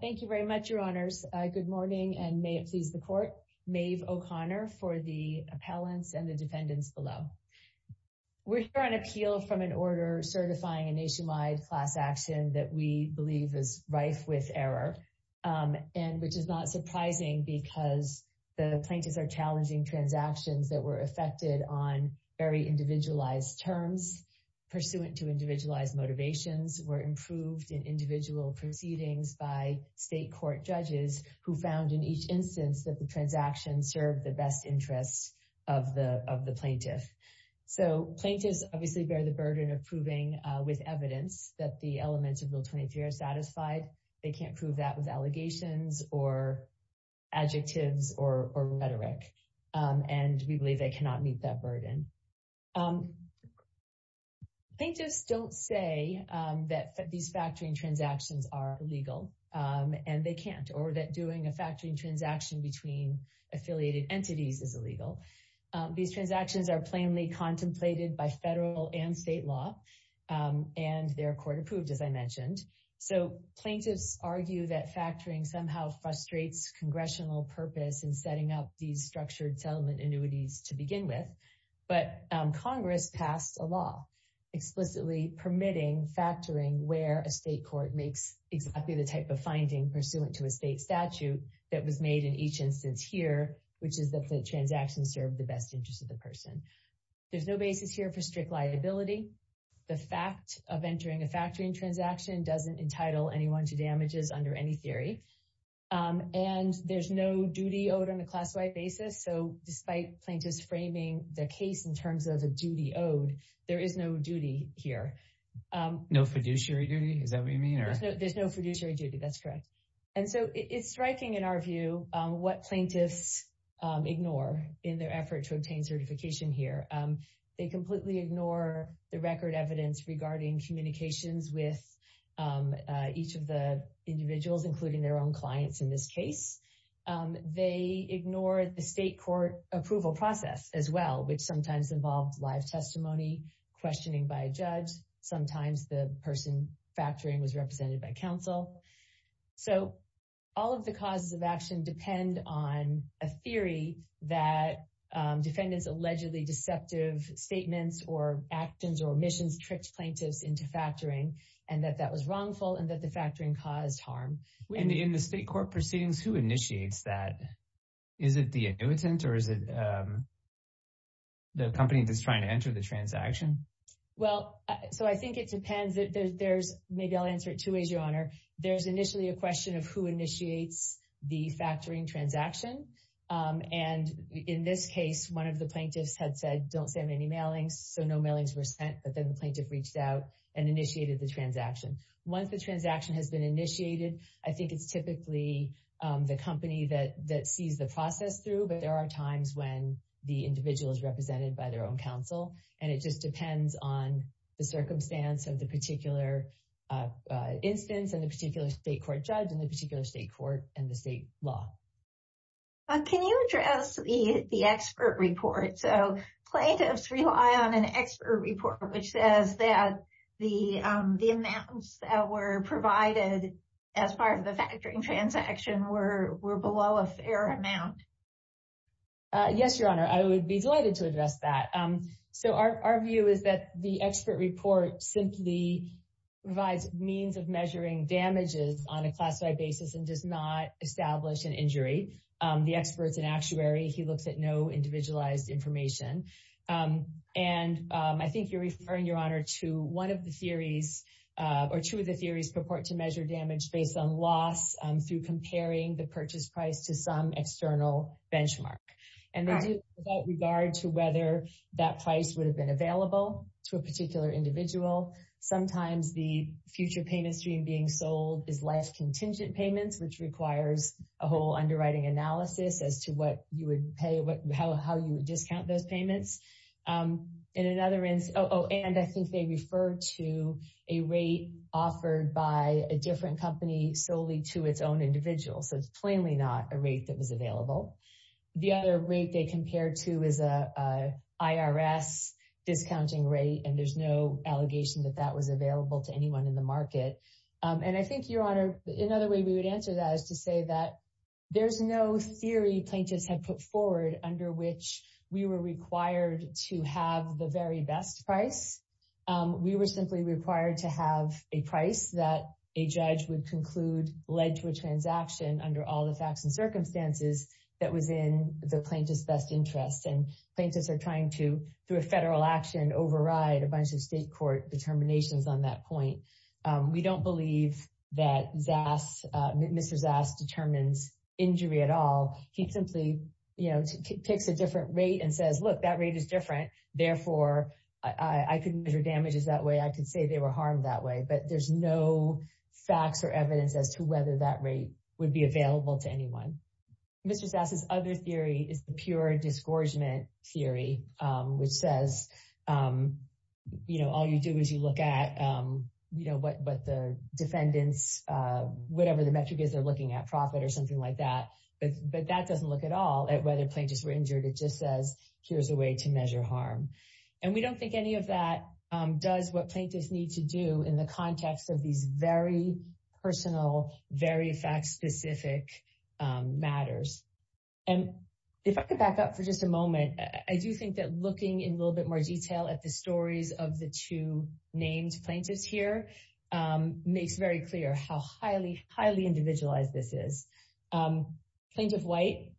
Thank you very much, Your Honors. Good morning, and may it please the Court, Maeve O'Connor for the appellants and the defendants below. We're here on appeal from an order certifying a nationwide class action that we believe is rife with error, and which is not surprising because the plaintiffs are challenging transactions that were affected on very individualized terms pursuant to individualized motivations, were improved in individual proceedings by state court judges who found in each instance that the transaction served the best interests of the plaintiff. So plaintiffs obviously bear the burden of proving with evidence that the elements of Bill 23 are satisfied. They can't prove that with allegations or adjectives or rhetoric, and we believe they cannot meet that burden. Plaintiffs don't say that these factoring transactions are illegal, and they can't, or that doing a factoring transaction between affiliated entities is illegal. These transactions are plainly contemplated by federal and state law, and they're court approved, as I mentioned. So plaintiffs argue that factoring somehow frustrates congressional purpose in setting up these structured settlement annuities to begin with, but Congress passed a law explicitly permitting factoring where a state court makes exactly the type of finding pursuant to a state statute that was made in each instance here, which is that the transaction served the best interests of the person. There's no basis here for strict liability. The fact of entering a factoring transaction doesn't entitle anyone to damages under any theory, and there's no duty owed on a class-wide basis. So despite plaintiffs framing the case in terms of a duty owed, there is no duty here. No fiduciary duty? Is that what you mean? There's no fiduciary duty, that's correct. And so it's striking in our view what plaintiffs ignore in their effort to obtain certification here. They completely ignore the record evidence regarding communications with each of the individuals, including their own clients in this case. They ignore the state court approval process as well, which sometimes involves live testimony, questioning by a judge, sometimes the person factoring was represented by counsel. So all of the causes of action depend on a theory that defendants allegedly deceptive statements or actions or omissions tricked plaintiffs into factoring and that that was wrongful and that the factoring caused harm. In the state court proceedings, who initiates that? Is it the annuitant or is it the company that's trying to enter the transaction? Well, so I think it depends. Maybe I'll answer it two ways, your honor. There's initially a question of who initiates the factoring transaction, and in this case, one of the plaintiffs had said, don't send any mailings. So no mailings were sent, but then the plaintiff reached out and initiated the transaction. Once the transaction has been initiated, I think it's typically the company that sees the process through, but there are times when the individual is represented by their own counsel. And it just depends on the circumstance of the particular instance and the particular state court judge and the particular state court and the state law. Can you address the expert report? So plaintiffs rely on an expert report, which says that the amounts that were provided as part of the factoring transaction were below a fair amount. Yes, your honor, I would be delighted to address that. So our view is that the expert report simply provides means of measuring damages on a classified basis and does not establish an injury. The expert's an actuary. He looks at no individualized information. And I think you're referring, your honor, to one of the theories or two of the theories purport to measure damage based on loss through comparing the purchase price to some external benchmark. And without regard to whether that price would have been available to a particular individual, sometimes the future payment stream being sold is less contingent payments, which requires a whole underwriting analysis as to what you would pay, how you would discount those payments. In another instance, oh, and I think they refer to a rate offered by a different company solely to its own individual. So it's plainly not a rate that was available. The other rate they and there's no allegation that that was available to anyone in the market. And I think, your honor, another way we would answer that is to say that there's no theory plaintiffs had put forward under which we were required to have the very best price. We were simply required to have a price that a judge would conclude led to a transaction under all the facts and circumstances that was in the plaintiff's best interest. And plaintiffs are trying to, through a federal action, override a bunch of state court determinations on that point. We don't believe that Mr. Zass determines injury at all. He simply takes a different rate and says, look, that rate is different. Therefore, I couldn't measure damages that way. I could say they were harmed that way. But there's no facts or evidence as to whether that rate would be which says, you know, all you do is you look at, you know, what the defendants, whatever the metric is, they're looking at profit or something like that. But that doesn't look at all at whether plaintiffs were injured. It just says, here's a way to measure harm. And we don't think any of that does what plaintiffs need to do in the context of these very personal, very fact-specific matters. And if I could back up for just a moment, I do think that looking in a little bit more detail at the stories of the two named plaintiffs here makes very clear how highly, highly individualized this is. Plaintiff White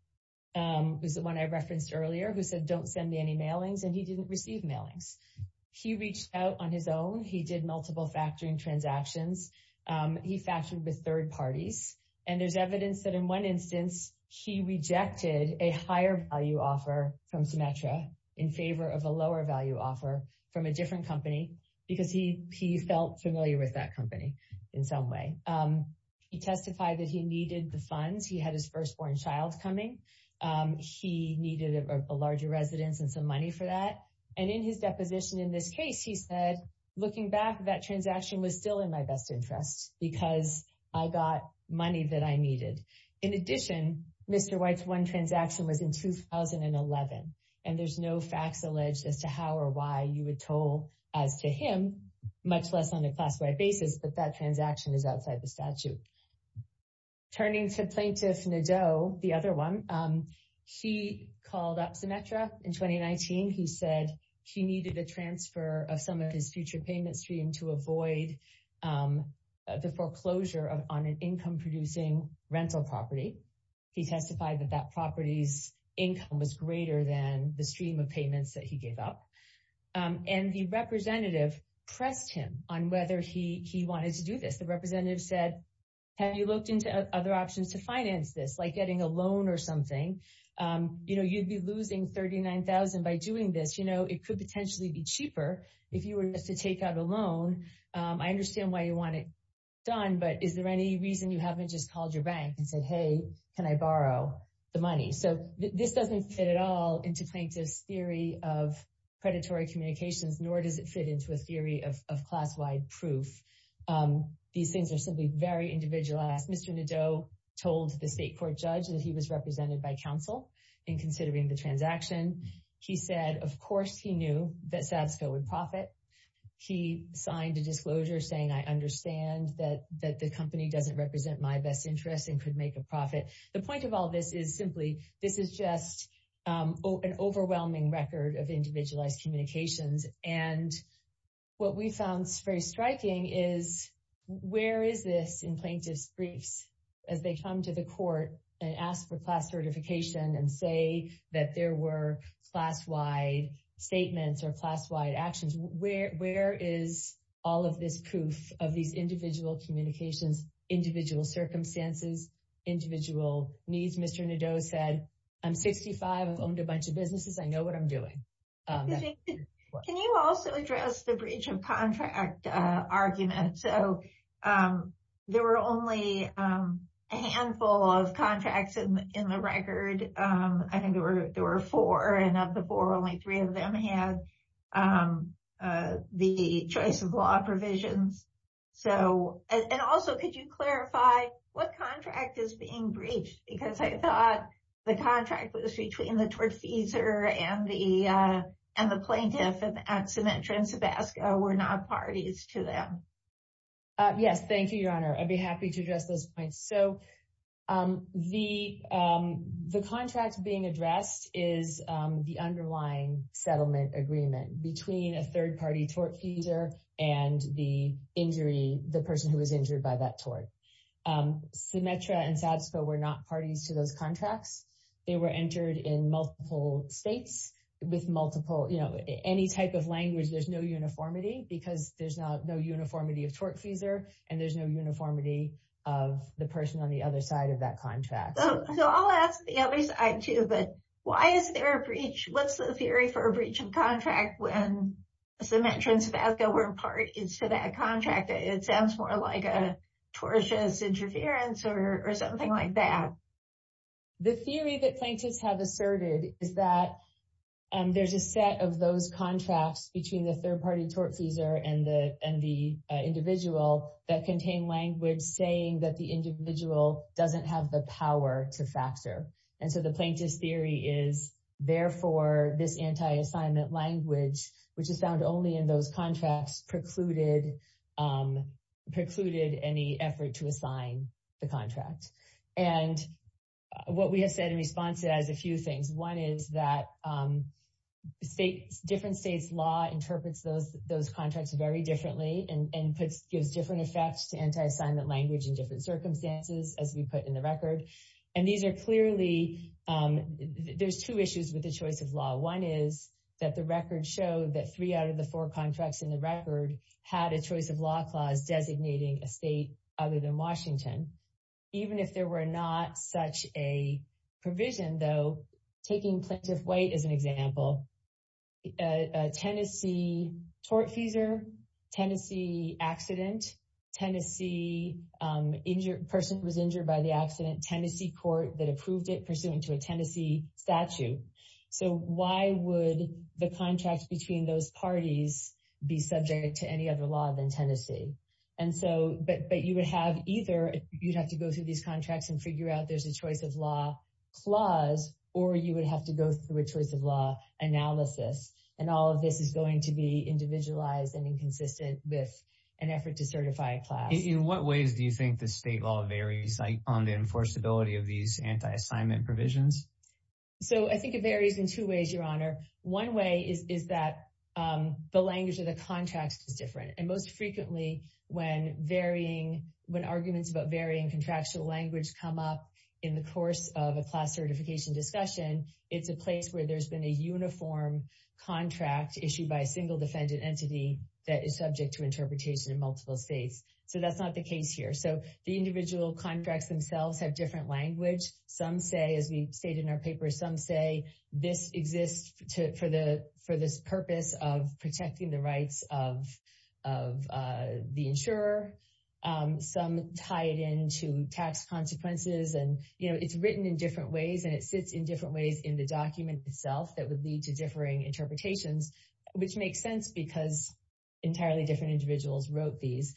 is the one I referenced earlier, who said, don't send me any mailings. And he didn't receive mailings. He reached out on his own. He did multiple factoring transactions. He factored with third parties. And there's evidence that in one instance, he rejected a higher value offer from Symetra in favor of a lower value offer from a different company, because he felt familiar with that company in some way. He testified that he needed the funds. He had his firstborn child coming. He needed a larger residence and some money for that. And in his deposition in this case, he said, looking back, that transaction was still in my best interest because I got money that I needed. In addition, Mr. White's one transaction was in 2011. And there's no facts alleged as to how or why you would toll as to him, much less on a class-wide basis, but that transaction is outside the statute. Turning to Plaintiff Nadeau, the other one, he called up Symetra in 2019. He said he needed a foreclosure on an income-producing rental property. He testified that that property's income was greater than the stream of payments that he gave up. And the representative pressed him on whether he wanted to do this. The representative said, have you looked into other options to finance this, like getting a loan or something? You'd be losing $39,000 by doing this. It could potentially be cheaper if you were to take out a loan. I understand why you want it done, but is there any reason you haven't just called your bank and said, hey, can I borrow the money? So this doesn't fit at all into plaintiff's theory of predatory communications, nor does it fit into a theory of class-wide proof. These things are simply very individualized. Mr. Nadeau told the state court judge that he was represented by counsel in considering the of course he knew that SASCO would profit. He signed a disclosure saying, I understand that the company doesn't represent my best interests and could make a profit. The point of all this is simply, this is just an overwhelming record of individualized communications. And what we found very striking is, where is this in plaintiff's briefs as they come to the court and ask for class-wide statements or class-wide actions? Where is all of this proof of these individual communications, individual circumstances, individual needs? Mr. Nadeau said, I'm 65. I've owned a bunch of businesses. I know what I'm doing. Can you also address the breach of contract argument? So there were only a handful of three of them had the choice of law provisions. And also, could you clarify what contract is being breached? Because I thought the contract was between the tortfeasor and the plaintiff at Symetra and Sabasco were not parties to them. Yes. Thank you, Your Honor. I'd be happy to address those points. So the contract being addressed is the underlying settlement agreement between a third-party tortfeasor and the injury, the person who was injured by that tort. Symetra and Sabasco were not parties to those contracts. They were entered in multiple states with multiple, any type of language, there's no uniformity because there's no uniformity of tortfeasor and there's no uniformity of the person on the other side of that contract. So I'll ask the other side too, but why is there a breach? What's the theory for a breach of contract when Symetra and Sabasco were parties to that contract? It sounds more like a tortious interference or something like that. The theory that plaintiffs have asserted is that there's a set of those contracts between the language saying that the individual doesn't have the power to factor. And so the plaintiff's theory is, therefore, this anti-assignment language, which is found only in those contracts, precluded any effort to assign the contract. And what we have said in response to that is a few things. One is that different states' law interprets those contracts very differently and gives different effects to anti-assignment language in different circumstances, as we put in the record. And these are clearly, there's two issues with the choice of law. One is that the record showed that three out of the four contracts in the record had a choice of law clause designating a state other than Washington. Even if there were not such a provision though, taking Plaintiff White as an Tennessee person who was injured by the accident, Tennessee court that approved it pursuant to a Tennessee statute. So why would the contract between those parties be subject to any other law than Tennessee? And so, but you would have either, you'd have to go through these contracts and figure out there's a choice of law clause, or you would have to go through a choice of law analysis. And all of this is going to be individualized and inconsistent with an effort to certify a class. In what ways do you think the state law varies on the enforceability of these anti-assignment provisions? So I think it varies in two ways, your honor. One way is that the language of the contracts is different. And most frequently when varying, when arguments about varying contractual language come up in the course of a class certification discussion, it's a place where there's been a uniform contract issued by a single defendant entity that is subject to interpretation in multiple states. So that's not the case here. So the individual contracts themselves have different language. Some say, as we stated in our paper, some say this exists for this purpose of protecting the rights of the insurer. Some tie it into tax consequences. And it's written in different ways, and it sits in different ways in the document itself that would lead to differing interpretations, which makes sense because entirely different individuals wrote these.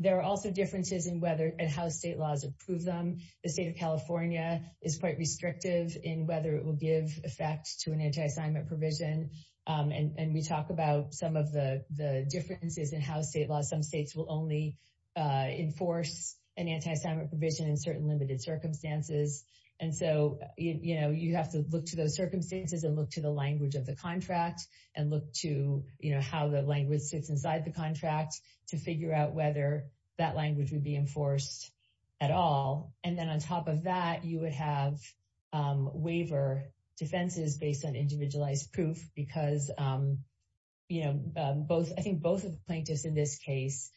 There are also differences in how state laws approve them. The state of California is quite restrictive in whether it will give effect to an anti-assignment provision. And we talk about some of the differences in how state laws, some states will only enforce an anti-assignment provision in certain limited circumstances. And so you have to look to those circumstances and look to the language of the contract and look to how the language sits inside the contract to figure out whether that language would be enforced at all. And then on top of that, you would have waiver defenses based on individualized proof because I think both of the plaintiffs in this case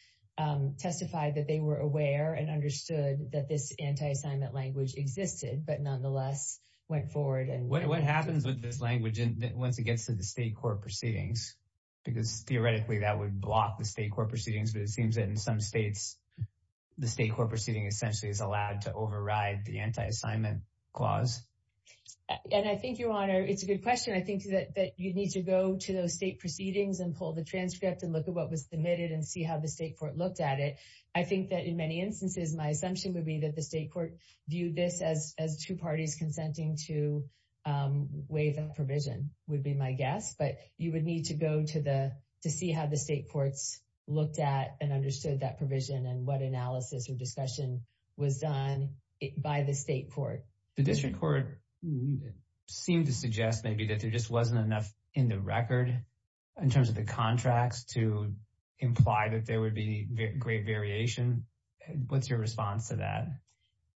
testified that they were aware and understood that this anti-assignment language existed, but nonetheless went forward. What happens with this language once it gets to the state court proceedings? Because theoretically that would block the state court proceedings, but it seems that in some states, the state court proceeding essentially is allowed to override the anti-assignment clause. And I think, Your Honor, it's a good question. I think that you need to go to those state courts and look at what was submitted and see how the state court looked at it. I think that in many instances, my assumption would be that the state court viewed this as two parties consenting to waive that provision would be my guess, but you would need to go to see how the state courts looked at and understood that provision and what analysis or discussion was done by the state court. The district court seemed to suggest maybe that there just wasn't enough in the record in terms of the contracts to imply that there would be great variation. What's your response to that?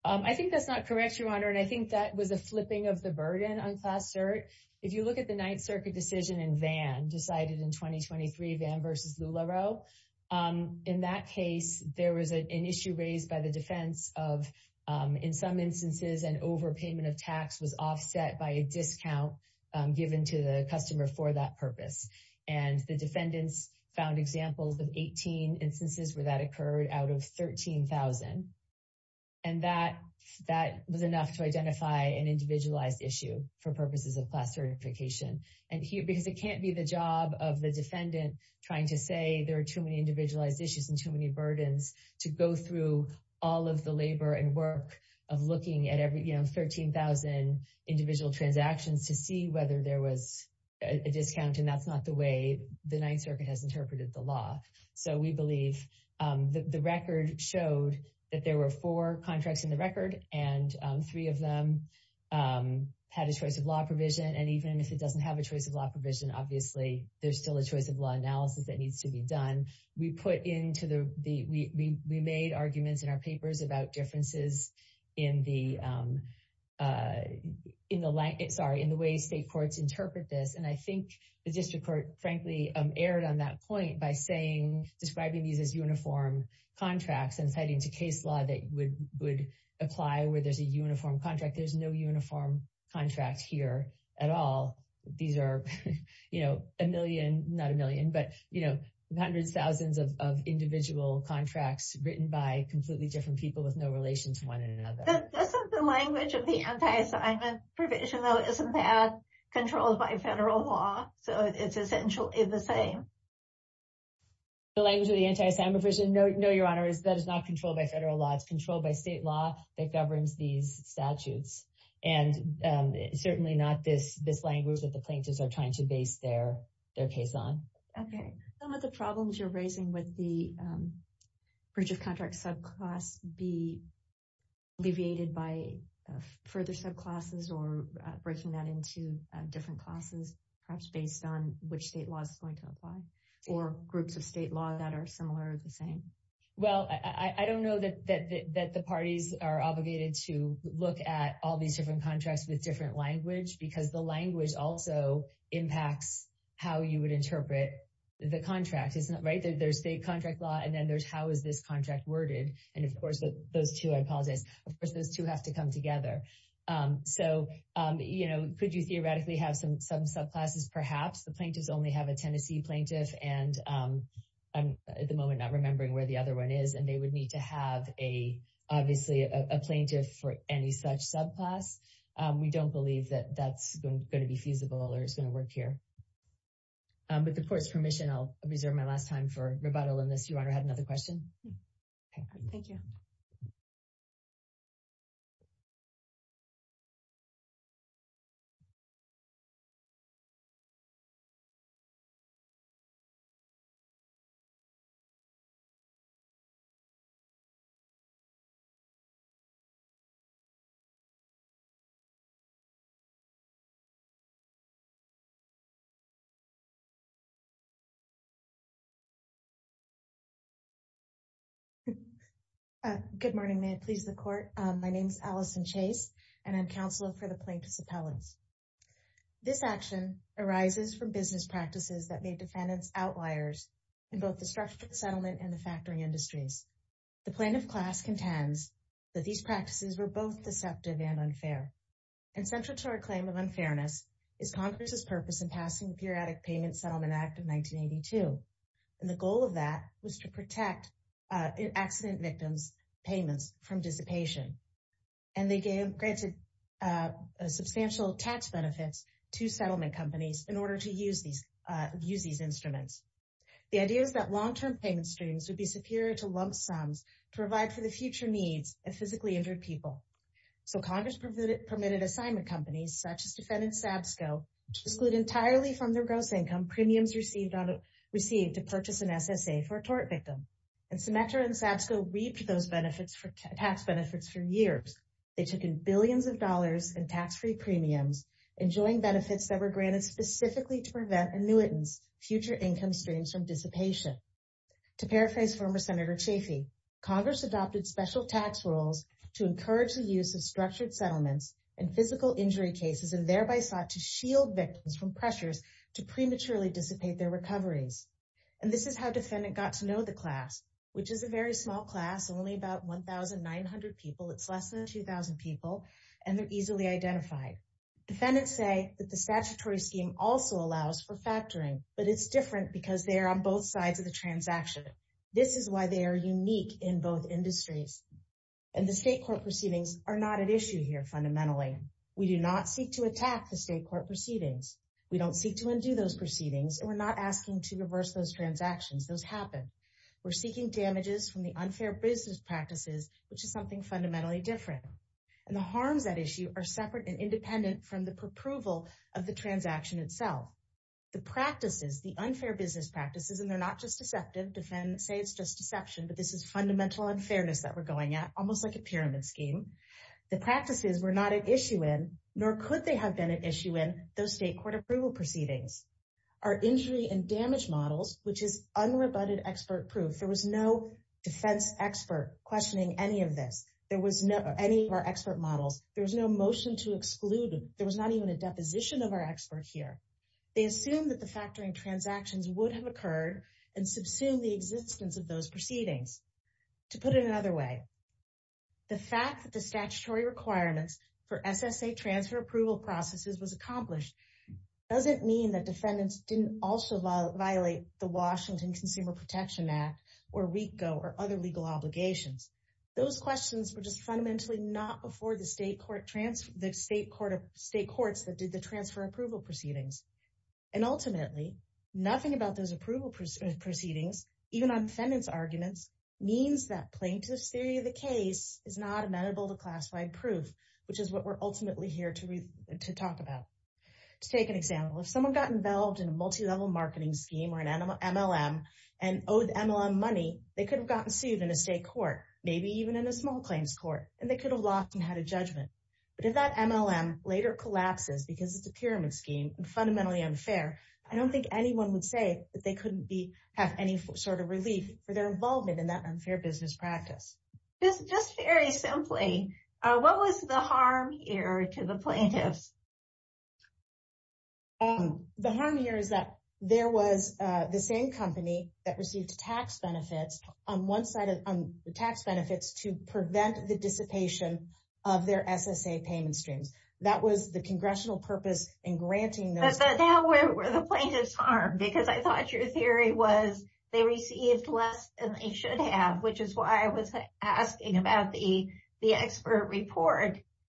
I think that's not correct, Your Honor, and I think that was a flipping of the burden on Class Cert. If you look at the Ninth Circuit decision in Vann, decided in 2023, Vann versus LuLaRoe, in that case, there was an issue raised by the defense of, in some instances, an overpayment of tax was offset by a discount given to the customer for that purpose. And the defendants found examples of 18 instances where that occurred out of 13,000. And that was enough to identify an individualized issue for purposes of Class Certification. Because it can't be the job of the defendant trying to say there are too many individualized issues and too many burdens to go through all of the labor and work of looking at every, you know, 13,000 individual transactions to see whether there was a discount. And that's not the way the Ninth Circuit has interpreted the law. So, we believe the record showed that there were four contracts in the record and three of them had a choice of law provision. And even if it doesn't have a choice of law provision, obviously, there's still a choice of law analysis that needs to be done. We put into the, we made arguments in our papers about differences in the, in the, sorry, in the way state courts interpret this. And I think the district court, frankly, erred on that point by saying, describing these as uniform contracts and citing to case law that would apply where there's a uniform contract. There's no uniform contract here at all. These are, you know, a million, not a million, but, you know, hundreds, thousands of individual contracts written by completely different people with no relation to one another. But isn't the language of the anti-assignment provision, though, isn't that controlled by federal law? So, it's essentially the same? The language of the anti-assignment provision, no, your honor, that is not controlled by federal law. It's controlled by state law that governs these statutes. And it's certainly not this language that the plaintiffs are trying to base their case on. Okay. Some of the problems you're raising with the bridge of contract subclass be alleviated by further subclasses or breaking that into different classes, perhaps based on which state law is going to apply or groups of state law that are similar or the same? Well, I don't know that the parties are obligated to look at all these different contracts with language because the language also impacts how you would interpret the contract, right? There's state contract law, and then there's how is this contract worded? And of course, those two, I apologize, of course, those two have to come together. So, you know, could you theoretically have some subclasses, perhaps? The plaintiffs only have a Tennessee plaintiff, and I'm at the moment not remembering where the other one is. And they don't believe that that's going to be feasible or it's going to work here. With the court's permission, I'll reserve my last time for rebuttal on this. Your Honor, I had another question. Thank you. Good morning, may it please the court. My name is Allison Chase, and I'm counsel for the plaintiff's appellants. This action arises from business practices that made defendants outliers in both the structural settlement and the factoring industries. The plaintiff class contends that these practices were both deceptive and unfair. And central to our claim of unfairness is Congress's purpose in passing the Periodic Payment Settlement Act of 1982. And the goal of that was to protect accident victims' payments from dissipation. And they granted substantial tax benefits to settlement companies in order to use these instruments. The idea is that long-term payment streams would be superior to lump sums to provide for the future needs of physically injured people. So Congress permitted assignment companies, such as defendant Sabsco, to exclude entirely from their gross income premiums received to purchase an SSA for a tort victim. And Symetra and Sabsco reaped those tax benefits for years. They took in billions of dollars in tax-free premiums, enjoying benefits that were granted specifically to prevent annuitants' future income streams from dissipation. To paraphrase former Senator Chafee, Congress adopted special tax rules to encourage the use of structured settlements in physical injury cases and thereby sought to shield victims from pressures to prematurely dissipate their recoveries. And this is how defendant got to know the class, which is a very small class, only about 1,900 people. It's less than 2,000 people, and they're easily identified. Defendants say that the statutory scheme also allows for factoring, but it's different because they are on both sides of the transaction. This is why they are unique in both industries. And the state court proceedings are not at issue here, fundamentally. We do not seek to attack the state court proceedings. We don't seek to undo those proceedings, and we're not asking to reverse those transactions. Those happen. We're seeking damages from the unfair business practices, which is something fundamentally different. And the harms at issue are separate and the unfair business practices, and they're not just deceptive. Defendants say it's just deception, but this is fundamental unfairness that we're going at, almost like a pyramid scheme. The practices were not at issue in, nor could they have been at issue in, those state court approval proceedings. Our injury and damage models, which is unrebutted expert proof. There was no defense expert questioning any of this. There was no any of our expert models. There was no motion to exclude them. There was not even a deposition of our expert here. They assumed that the factoring transactions would have occurred and subsumed the existence of those proceedings. To put it another way, the fact that the statutory requirements for SSA transfer approval processes was accomplished, doesn't mean that defendants didn't also violate the Washington Consumer Protection Act, or RICO, or other legal obligations. Those questions were just fundamentally not before state courts that did the transfer approval proceedings. And ultimately, nothing about those approval proceedings, even on defendants' arguments, means that plaintiff's theory of the case is not amenable to classified proof, which is what we're ultimately here to talk about. To take an example, if someone got involved in a multi-level marketing scheme or an MLM and owed MLM money, they could have gotten sued in a state court, maybe even in a small claims court, and they could have lost and had a judgment. But if that MLM later collapses because it's a pyramid scheme and fundamentally unfair, I don't think anyone would say that they couldn't have any sort of relief for their involvement in that unfair business practice. Just very simply, what was the harm here to the plaintiffs? The harm here is that there was the same company that received tax benefits on one side of their SSA payment streams. That was the congressional purpose in granting those. But now, where were the plaintiffs harmed? Because I thought your theory was they received less than they should have, which is why I was asking about the expert report.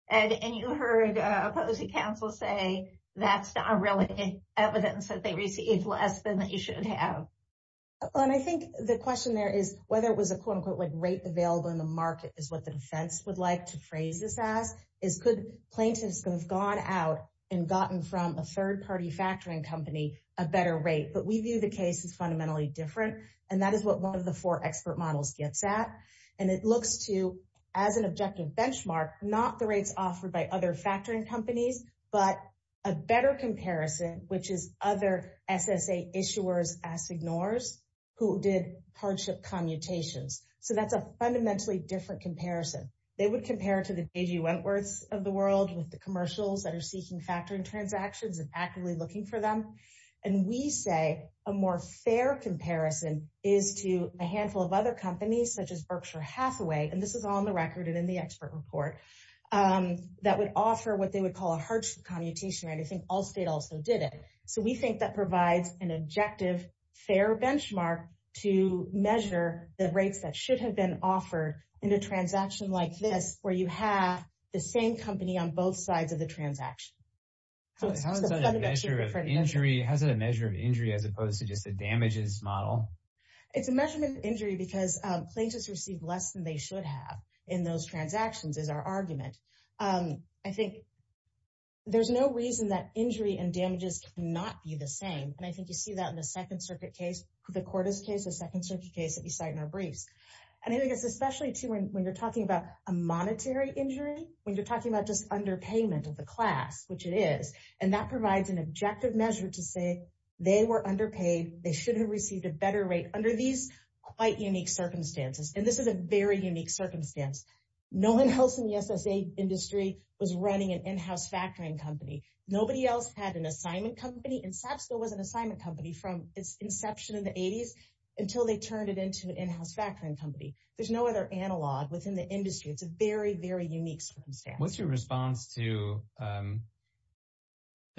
And you heard a opposing counsel say that's not really evidence that they received less than they should have. Well, and I think the question there is whether it was a quote-unquote rate available in the SASS, is could plaintiffs have gone out and gotten from a third-party factoring company a better rate? But we view the case as fundamentally different, and that is what one of the four expert models gets at. And it looks to, as an objective benchmark, not the rates offered by other factoring companies, but a better comparison, which is other SSA issuers as ignores, who did hardship commutations. So that's a fundamentally different comparison. They would compare to the A.G. Wentworths of the world, with the commercials that are seeking factoring transactions and actively looking for them. And we say a more fair comparison is to a handful of other companies, such as Berkshire Hathaway, and this is on the record and in the expert report, that would offer what they would call a hardship commutation rate. I think Allstate also did it. So we think that provides an objective, fair benchmark to measure the rates that should have offered in a transaction like this, where you have the same company on both sides of the transaction. So it's fundamentally different. How is that a measure of injury as opposed to just a damages model? It's a measurement of injury because plaintiffs receive less than they should have in those transactions, is our argument. I think there's no reason that injury and damages cannot be the same. And I think you see that in the Second Circuit case, the Cordes case, Second Circuit case that we cite in our briefs. And I think it's especially true when you're talking about a monetary injury, when you're talking about just underpayment of the class, which it is, and that provides an objective measure to say they were underpaid, they should have received a better rate under these quite unique circumstances. And this is a very unique circumstance. No one else in the SSA industry was running an in-house factoring company. Nobody else had an assignment company, and SAP still was an assignment company from its inception in the 80s until they turned it into an in-house factoring company. There's no other analog within the industry. It's a very, very unique circumstance. What's your response to the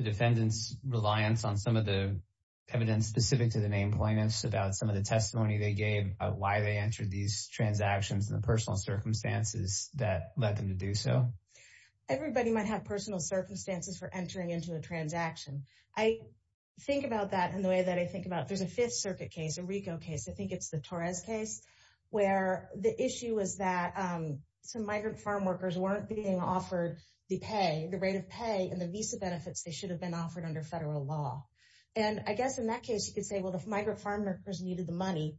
defendant's reliance on some of the evidence specific to the name plaintiffs about some of the testimony they gave about why they entered these transactions and the personal circumstances that led them to do so? Everybody might have personal circumstances for entering into a transaction. I think about that in the way that I think about, there's a Fifth Circuit case, a RICO case, I think it's the Torres case, where the issue was that some migrant farm workers weren't being offered the pay, the rate of pay and the visa benefits they should have been offered under federal law. And I guess in that case, you could say, well, the migrant farm workers needed the money.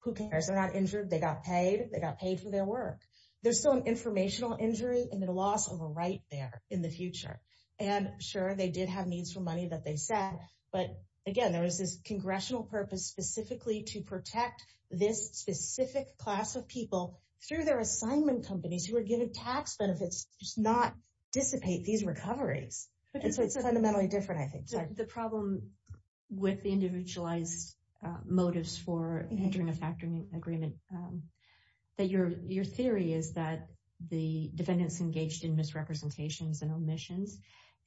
Who cares? They're not injured. They got paid. They got paid for their work. There's still an informational injury and a loss of a right there in the future. And sure, they did have needs for money that they set. But again, there was this congressional purpose specifically to protect this specific class of people through their assignment companies who were given tax benefits, just not dissipate these recoveries. And so it's fundamentally different, I think. The problem with the individualized motives for entering a factoring agreement, that your theory is that the defendant's engaged in misrepresentations and omissions,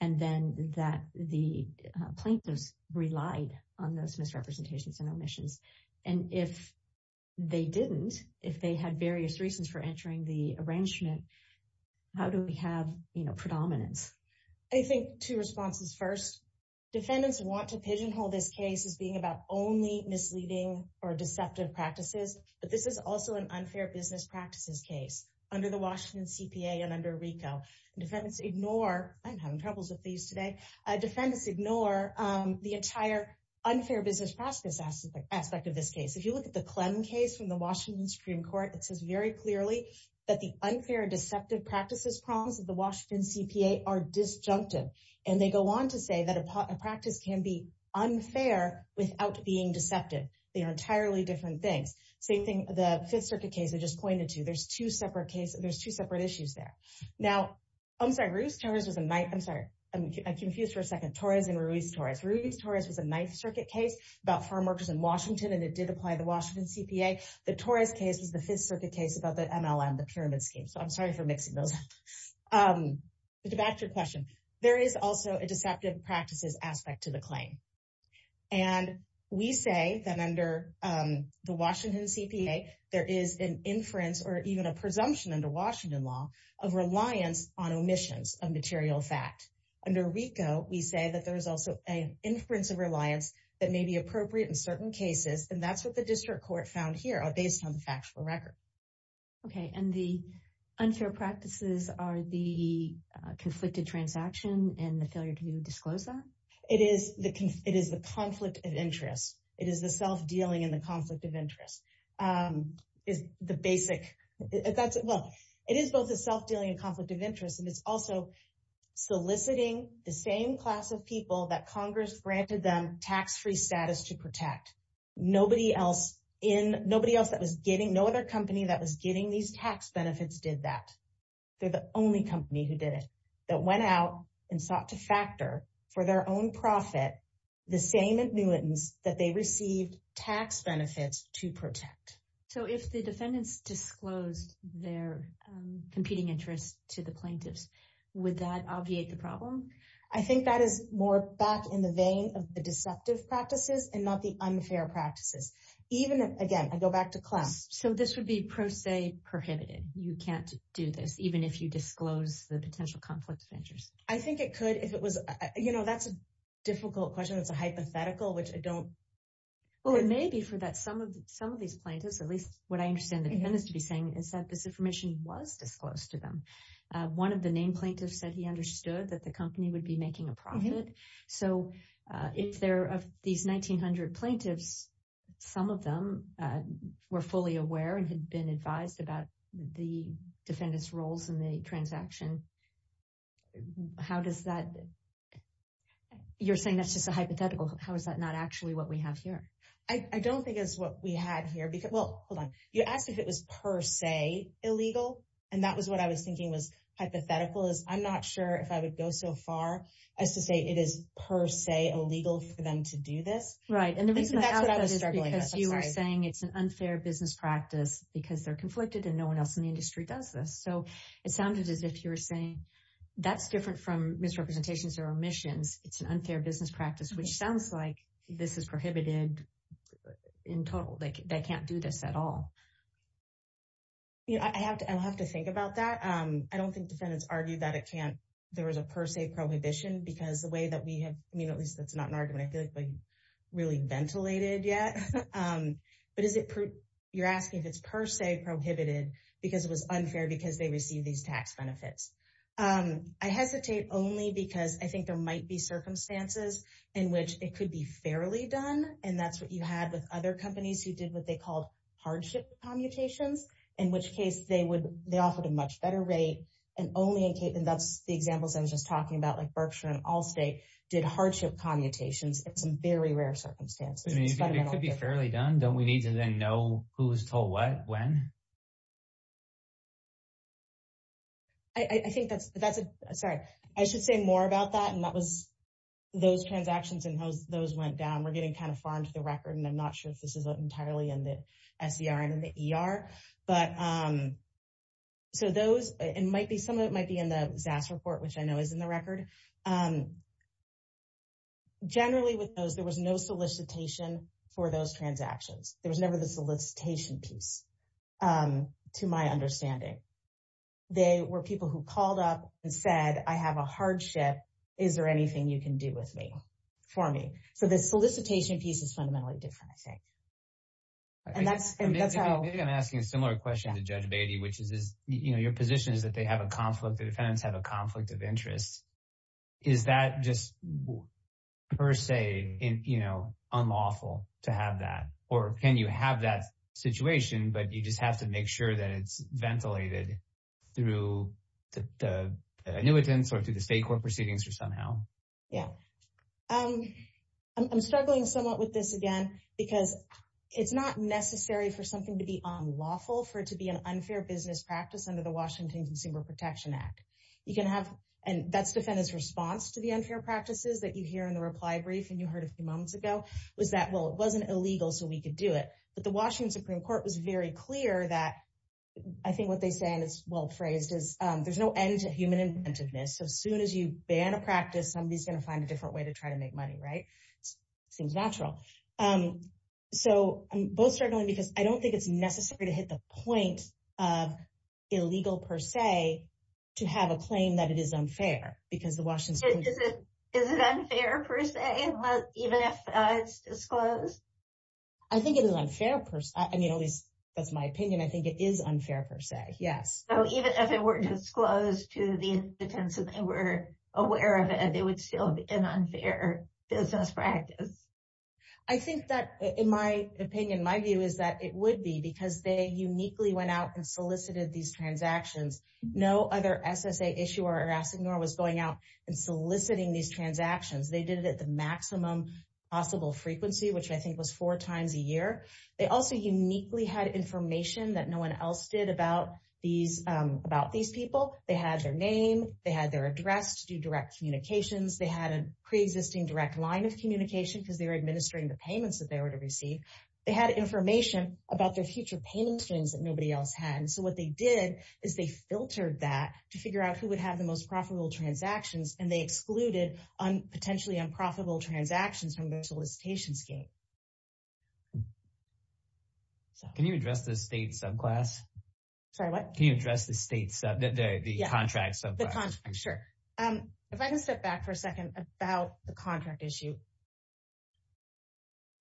and then that the plaintiffs relied on those misrepresentations and omissions. And if they didn't, if they had various reasons for entering the arrangement, how do we have, you know, predominance? I think two responses. First, defendants want to pigeonhole this case as being about only misleading or deceptive practices. But this is also an unfair business case under the Washington CPA and under RICO. I'm having troubles with these today. Defendants ignore the entire unfair business process aspect of this case. If you look at the Clem case from the Washington Supreme Court, it says very clearly that the unfair deceptive practices problems of the Washington CPA are disjunctive. And they go on to say that a practice can be unfair without being deceptive. They are entirely different things. Same thing, the Fifth Circuit case I just pointed to. There's two separate issues there. Now, I'm sorry, Ruiz-Torres was a knife, I'm sorry, I'm confused for a second, Torres and Ruiz-Torres. Ruiz-Torres was a Ninth Circuit case about farmworkers in Washington, and it did apply the Washington CPA. The Torres case was the Fifth Circuit case about the MLM, the pyramid scheme. So I'm sorry for mixing those up. But to back to your question, there is also a deceptive practices aspect to the claim. And we say that under the Washington CPA, there is an inference or even a presumption under Washington law of reliance on omissions of material fact. Under RICO, we say that there is also an inference of reliance that may be appropriate in certain cases. And that's what the district court found here are based on the factual record. Okay, and the unfair practices are the conflicted transaction and the failure to disclose that? It is the conflict of interest. It is the self-dealing and the conflict of interest is the basic. Well, it is both a self-dealing and conflict of interest. And it's also soliciting the same class of people that Congress granted them tax-free status to protect. Nobody else that was getting, no other company that was getting these tax benefits did that. They're the only company who did it, that went out and sought to factor for their own profit, the same admittance that they received tax benefits to protect. So if the defendants disclosed their competing interests to the plaintiffs, would that obviate the problem? I think that is more back in the vein of the deceptive practices and not the unfair practices. Even again, I go back to class. So this would be pro se prohibited. You can't do this, even if you disclose the potential conflict of interest. I think it could if it was, that's a difficult question. That's a hypothetical, which I don't. Well, it may be for that some of these plaintiffs, at least what I understand the defendants to be saying is that this information was disclosed to them. One of the named plaintiffs said he understood that the company would be making a profit. So if they're of these 1900 plaintiffs, some of them were fully aware and had been advised about the defendant's roles in the transaction. You're saying that's just a hypothetical. How is that not actually what we have here? I don't think it's what we had here. Well, hold on. You asked if it was per se illegal. And that was what I was thinking was hypothetical, is I'm not sure if I would go so you are saying it's an unfair business practice because they're conflicted and no one else in the industry does this. So it sounded as if you were saying that's different from misrepresentations or omissions. It's an unfair business practice, which sounds like this is prohibited in total. They can't do this at all. I'll have to think about that. I don't think defendants argue that there was a per se prohibition because the way that we have, I mean, at least that's not an yet. But you're asking if it's per se prohibited because it was unfair because they received these tax benefits. I hesitate only because I think there might be circumstances in which it could be fairly done. And that's what you had with other companies who did what they called hardship commutations, in which case they offered a much better rate. And that's the examples I was just talking about, like Berkshire and Allstate did hardship commutations in some very rare circumstances. I mean, it could be fairly done. Don't we need to then know who was told what, when? I think that's, sorry, I should say more about that. And that was those transactions and those went down. We're getting kind of far into the record. And I'm not sure if this is entirely in the SER and in the ER. But so those, it might be some of it might be in the ZAS report, which I know is in the record. Generally, with those, there was no solicitation for those transactions. There was never the solicitation piece, to my understanding. They were people who called up and said, I have a hardship. Is there anything you can do with me, for me? So the solicitation piece is fundamentally different, I think. And that's how I'm asking a similar question to Judge Beatty, which is, you know, your position is that they have a conflict of defense, have a conflict of interest. Is that just per se, you know, unlawful to have that? Or can you have that situation, but you just have to make sure that it's ventilated through the annuitants or through the state court proceedings or somehow? Yeah. I'm struggling somewhat with this again, because it's not necessary for something to be unlawful for it to be an unfair business practice under Washington Consumer Protection Act. You can have, and that's defendant's response to the unfair practices that you hear in the reply brief, and you heard a few moments ago, was that, well, it wasn't illegal, so we could do it. But the Washington Supreme Court was very clear that, I think what they say, and it's well phrased is, there's no end to human inventiveness. So soon as you ban a practice, somebody's going to find a different way to try to make money, right? Seems natural. So I'm both struggling, because I don't think it's necessary to hit the point of illegal, per se, to have a claim that it is unfair, because the Washington Supreme Court... Is it unfair, per se, even if it's disclosed? I think it is unfair, per se. I mean, at least, that's my opinion. I think it is unfair, per se. Yes. So even if it were disclosed to the defendants and they were aware of it, it would still be an unfair business practice. I think that, in my opinion, my view is that it would be, because they uniquely went out and solicited these transactions. No other SSA issuer or assigneur was going out and soliciting these transactions. They did it at the maximum possible frequency, which I think was four times a year. They also uniquely had information that no one else did about these people. They had their name, they had their address to do direct communications. They had a pre-existing direct line of administering the payments that they were to receive. They had information about their future payment strings that nobody else had. So what they did is they filtered that to figure out who would have the most profitable transactions, and they excluded potentially unprofitable transactions from their solicitation scheme. Can you address the state subclass? Sorry, what? Can you address the state sub, the contract subclass? Sure. If I can step back for a second about the contract issue.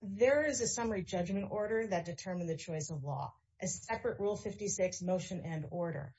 There is a summary judgment order that determined the choice of law, a separate Rule 56 motion and order.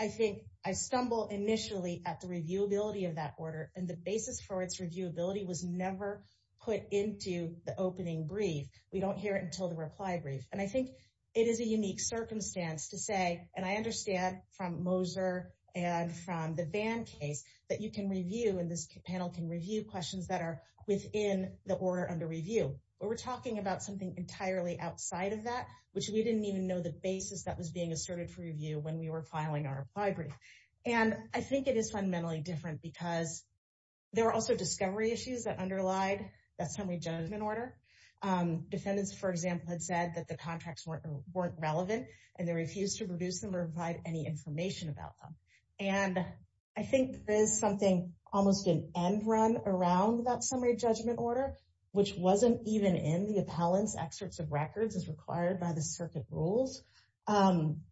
I think I stumbled initially at the reviewability of that order, and the basis for its reviewability was never put into the opening brief. We don't hear it until the reply brief. And I think it is a unique circumstance to say, and I understand from Moser and from the Vann case, that you can review, and this panel can review questions that are within the order under review. But we're talking about something entirely outside of that, which we didn't even know the basis that was being asserted for review when we were filing our reply brief. And I think it is fundamentally different because there were also discovery issues that underlied that summary judgment order. Defendants, for example, had said that the contracts weren't relevant, and they refused to produce them or provide any information about them. And I think there is something almost an end run around that summary judgment order, which wasn't even in the appellant's excerpts of records as required by the circuit rules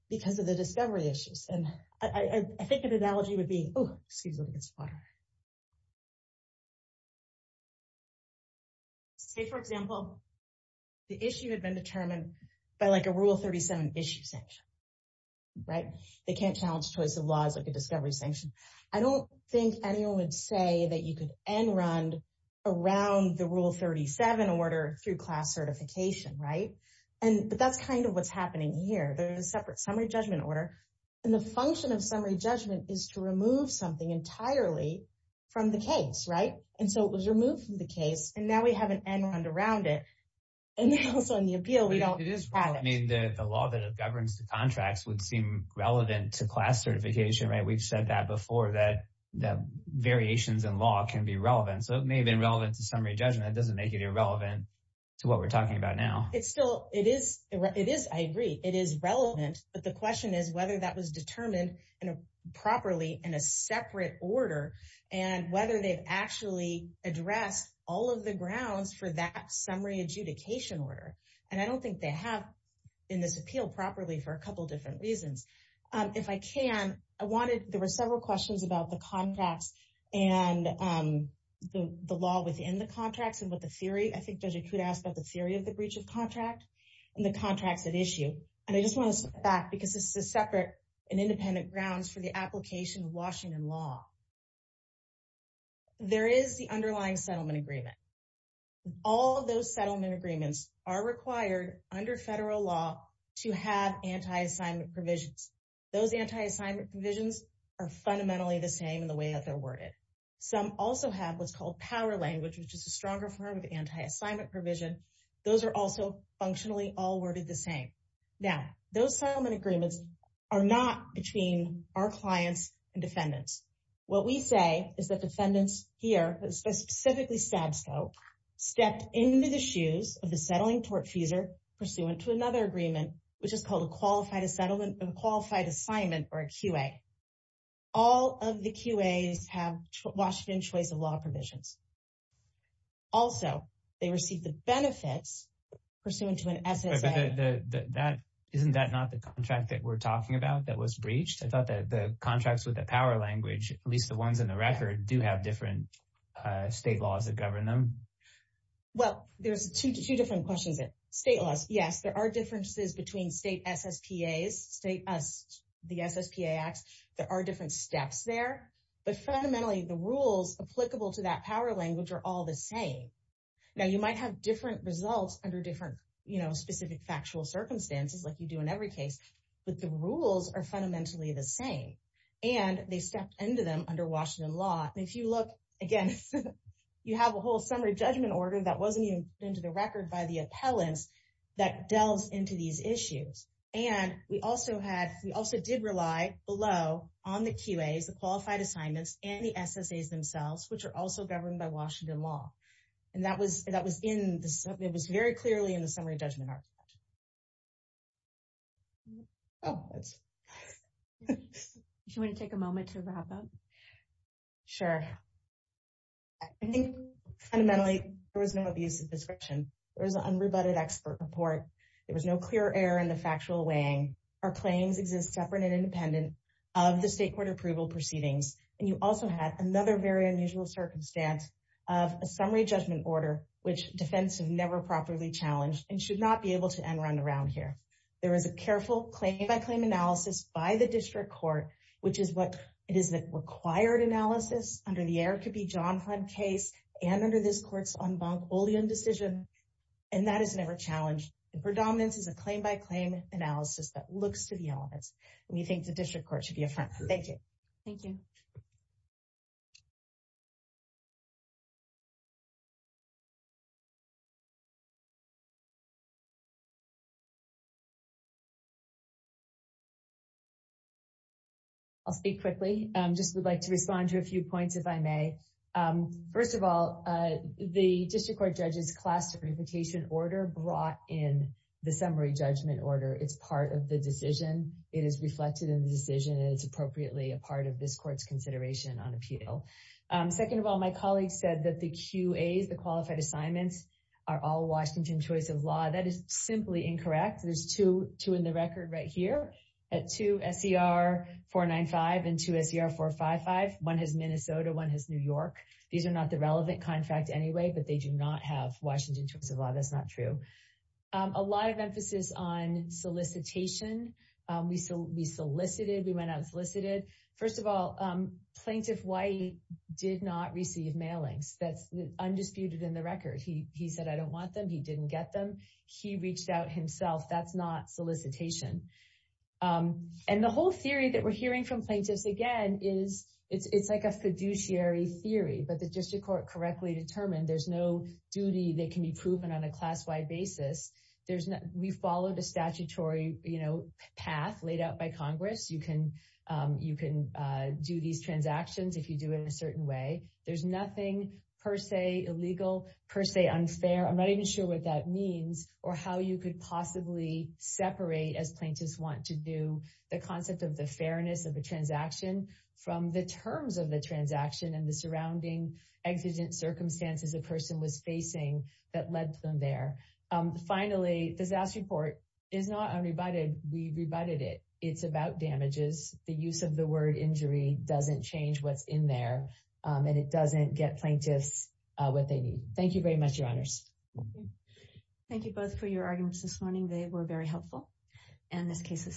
because of the discovery issues. And I think an analogy would be, oh, excuse me, it's water. Say, for example, the issue had been determined by like a Rule 37 issue sanction, right? They can't challenge choice of laws like a discovery sanction. I don't think anyone would say that you could end run around the Rule 37 order through class certification, right? But that's kind of what's happening here. There's a separate summary judgment order. And the function of summary judgment is to from the case, right? And so it was removed from the case, and now we have an end around it. And also in the appeal, we don't have it. It is relevant. I mean, the law that governs the contracts would seem relevant to class certification, right? We've said that before, that variations in law can be relevant. So it may have been relevant to summary judgment. It doesn't make it irrelevant to what we're talking about now. It's still, it is, I agree, it is relevant. But the question is whether that was determined properly in a separate order, and whether they've actually addressed all of the grounds for that summary adjudication order. And I don't think they have in this appeal properly for a couple different reasons. If I can, I wanted, there were several questions about the contracts and the law within the contracts and what the theory, I think Judge Acuda asked about the theory of the breach of contract and the contracts at issue. And I just want to step back because this is separate and independent grounds for the application of Washington law. There is the underlying settlement agreement. All of those settlement agreements are required under federal law to have anti-assignment provisions. Those anti-assignment provisions are fundamentally the same in the way that they're worded. Some also have what's called power language, which is a stronger form of anti-assignment provision. Those are also are not between our clients and defendants. What we say is that defendants here, specifically SABSO, stepped into the shoes of the settling tortfeasor pursuant to another agreement, which is called a qualified assignment or a QA. All of the QAs have Washington choice of law provisions. Also, they receive the benefits pursuant to an SSA. That, isn't that not the contract that we're talking about that was breached? I thought that the contracts with the power language, at least the ones in the record, do have different state laws that govern them. Well, there's two different questions. State laws, yes, there are differences between state SSPAs, the SSPA acts. There are different steps there. But fundamentally, the rules applicable to that power language are all the same. Now, you might have different results under different specific factual circumstances, like you do in every case, but the rules are fundamentally the same. They stepped into them under Washington law. If you look, again, you have a whole summary judgment order that wasn't even put into the record by the appellants that delves into these issues. We also did rely below on the QAs, the qualified assignments, and the SSAs themselves, which are also governed by Washington law. And that was very clearly in the summary judgment. Do you want to take a moment to wrap up? Sure. I think fundamentally, there was no abuse of description. There was an unrebutted expert report. There was no clear error in the factual weighing. Our claims exist separate and independent of the state court approval proceedings. And you also had another very unusual circumstance of a summary judgment order, which defense have never properly challenged and should not be able to end round around here. There is a careful claim by claim analysis by the district court, which is what it is that required analysis under the Eric B. Jonhlein case and under this court's en banc decision. And that is never challenged. Predominance is a claim by claim analysis that the district court should be a front. Thank you. Thank you. I'll speak quickly. I just would like to respond to a few points, if I may. First of all, the district court judge's class reputation order brought in the summary judgment order. It's part of the decision. It is reflected in the decision, and it's appropriately a part of this court's consideration on appeal. Second of all, my colleagues said that the QAs, the qualified assignments, are all Washington choice of law. That is simply incorrect. There's two in the record right here, two SCR-495 and two SCR-455. One has Minnesota, one has New York. These are not the relevant contract anyway, but they do not have Washington choice of law. That's not true. A lot of emphasis on solicitation. We solicited. We went out and solicited. First of all, Plaintiff White did not receive mailings. That's undisputed in the record. He said, I don't want them. He didn't get them. He reached out himself. That's not solicitation. And the whole theory that we're hearing from plaintiffs, again, is it's like a fiduciary theory. But the district court correctly determined there's no duty that can be proven on a class-wide basis. We followed a statutory path laid out by Congress. You can do these transactions if you do it in a certain way. There's nothing per se illegal, per se unfair. I'm not even sure what that means or how you could possibly separate, as plaintiffs want to do, the concept of the fairness of the transaction from the terms of the transaction and the there. Finally, disaster report is not unrebutted. We rebutted it. It's about damages. The use of the word injury doesn't change what's in there. And it doesn't get plaintiffs what they need. Thank you very much, your honors. Thank you both for your arguments this morning. They were very helpful. And this case is submitted.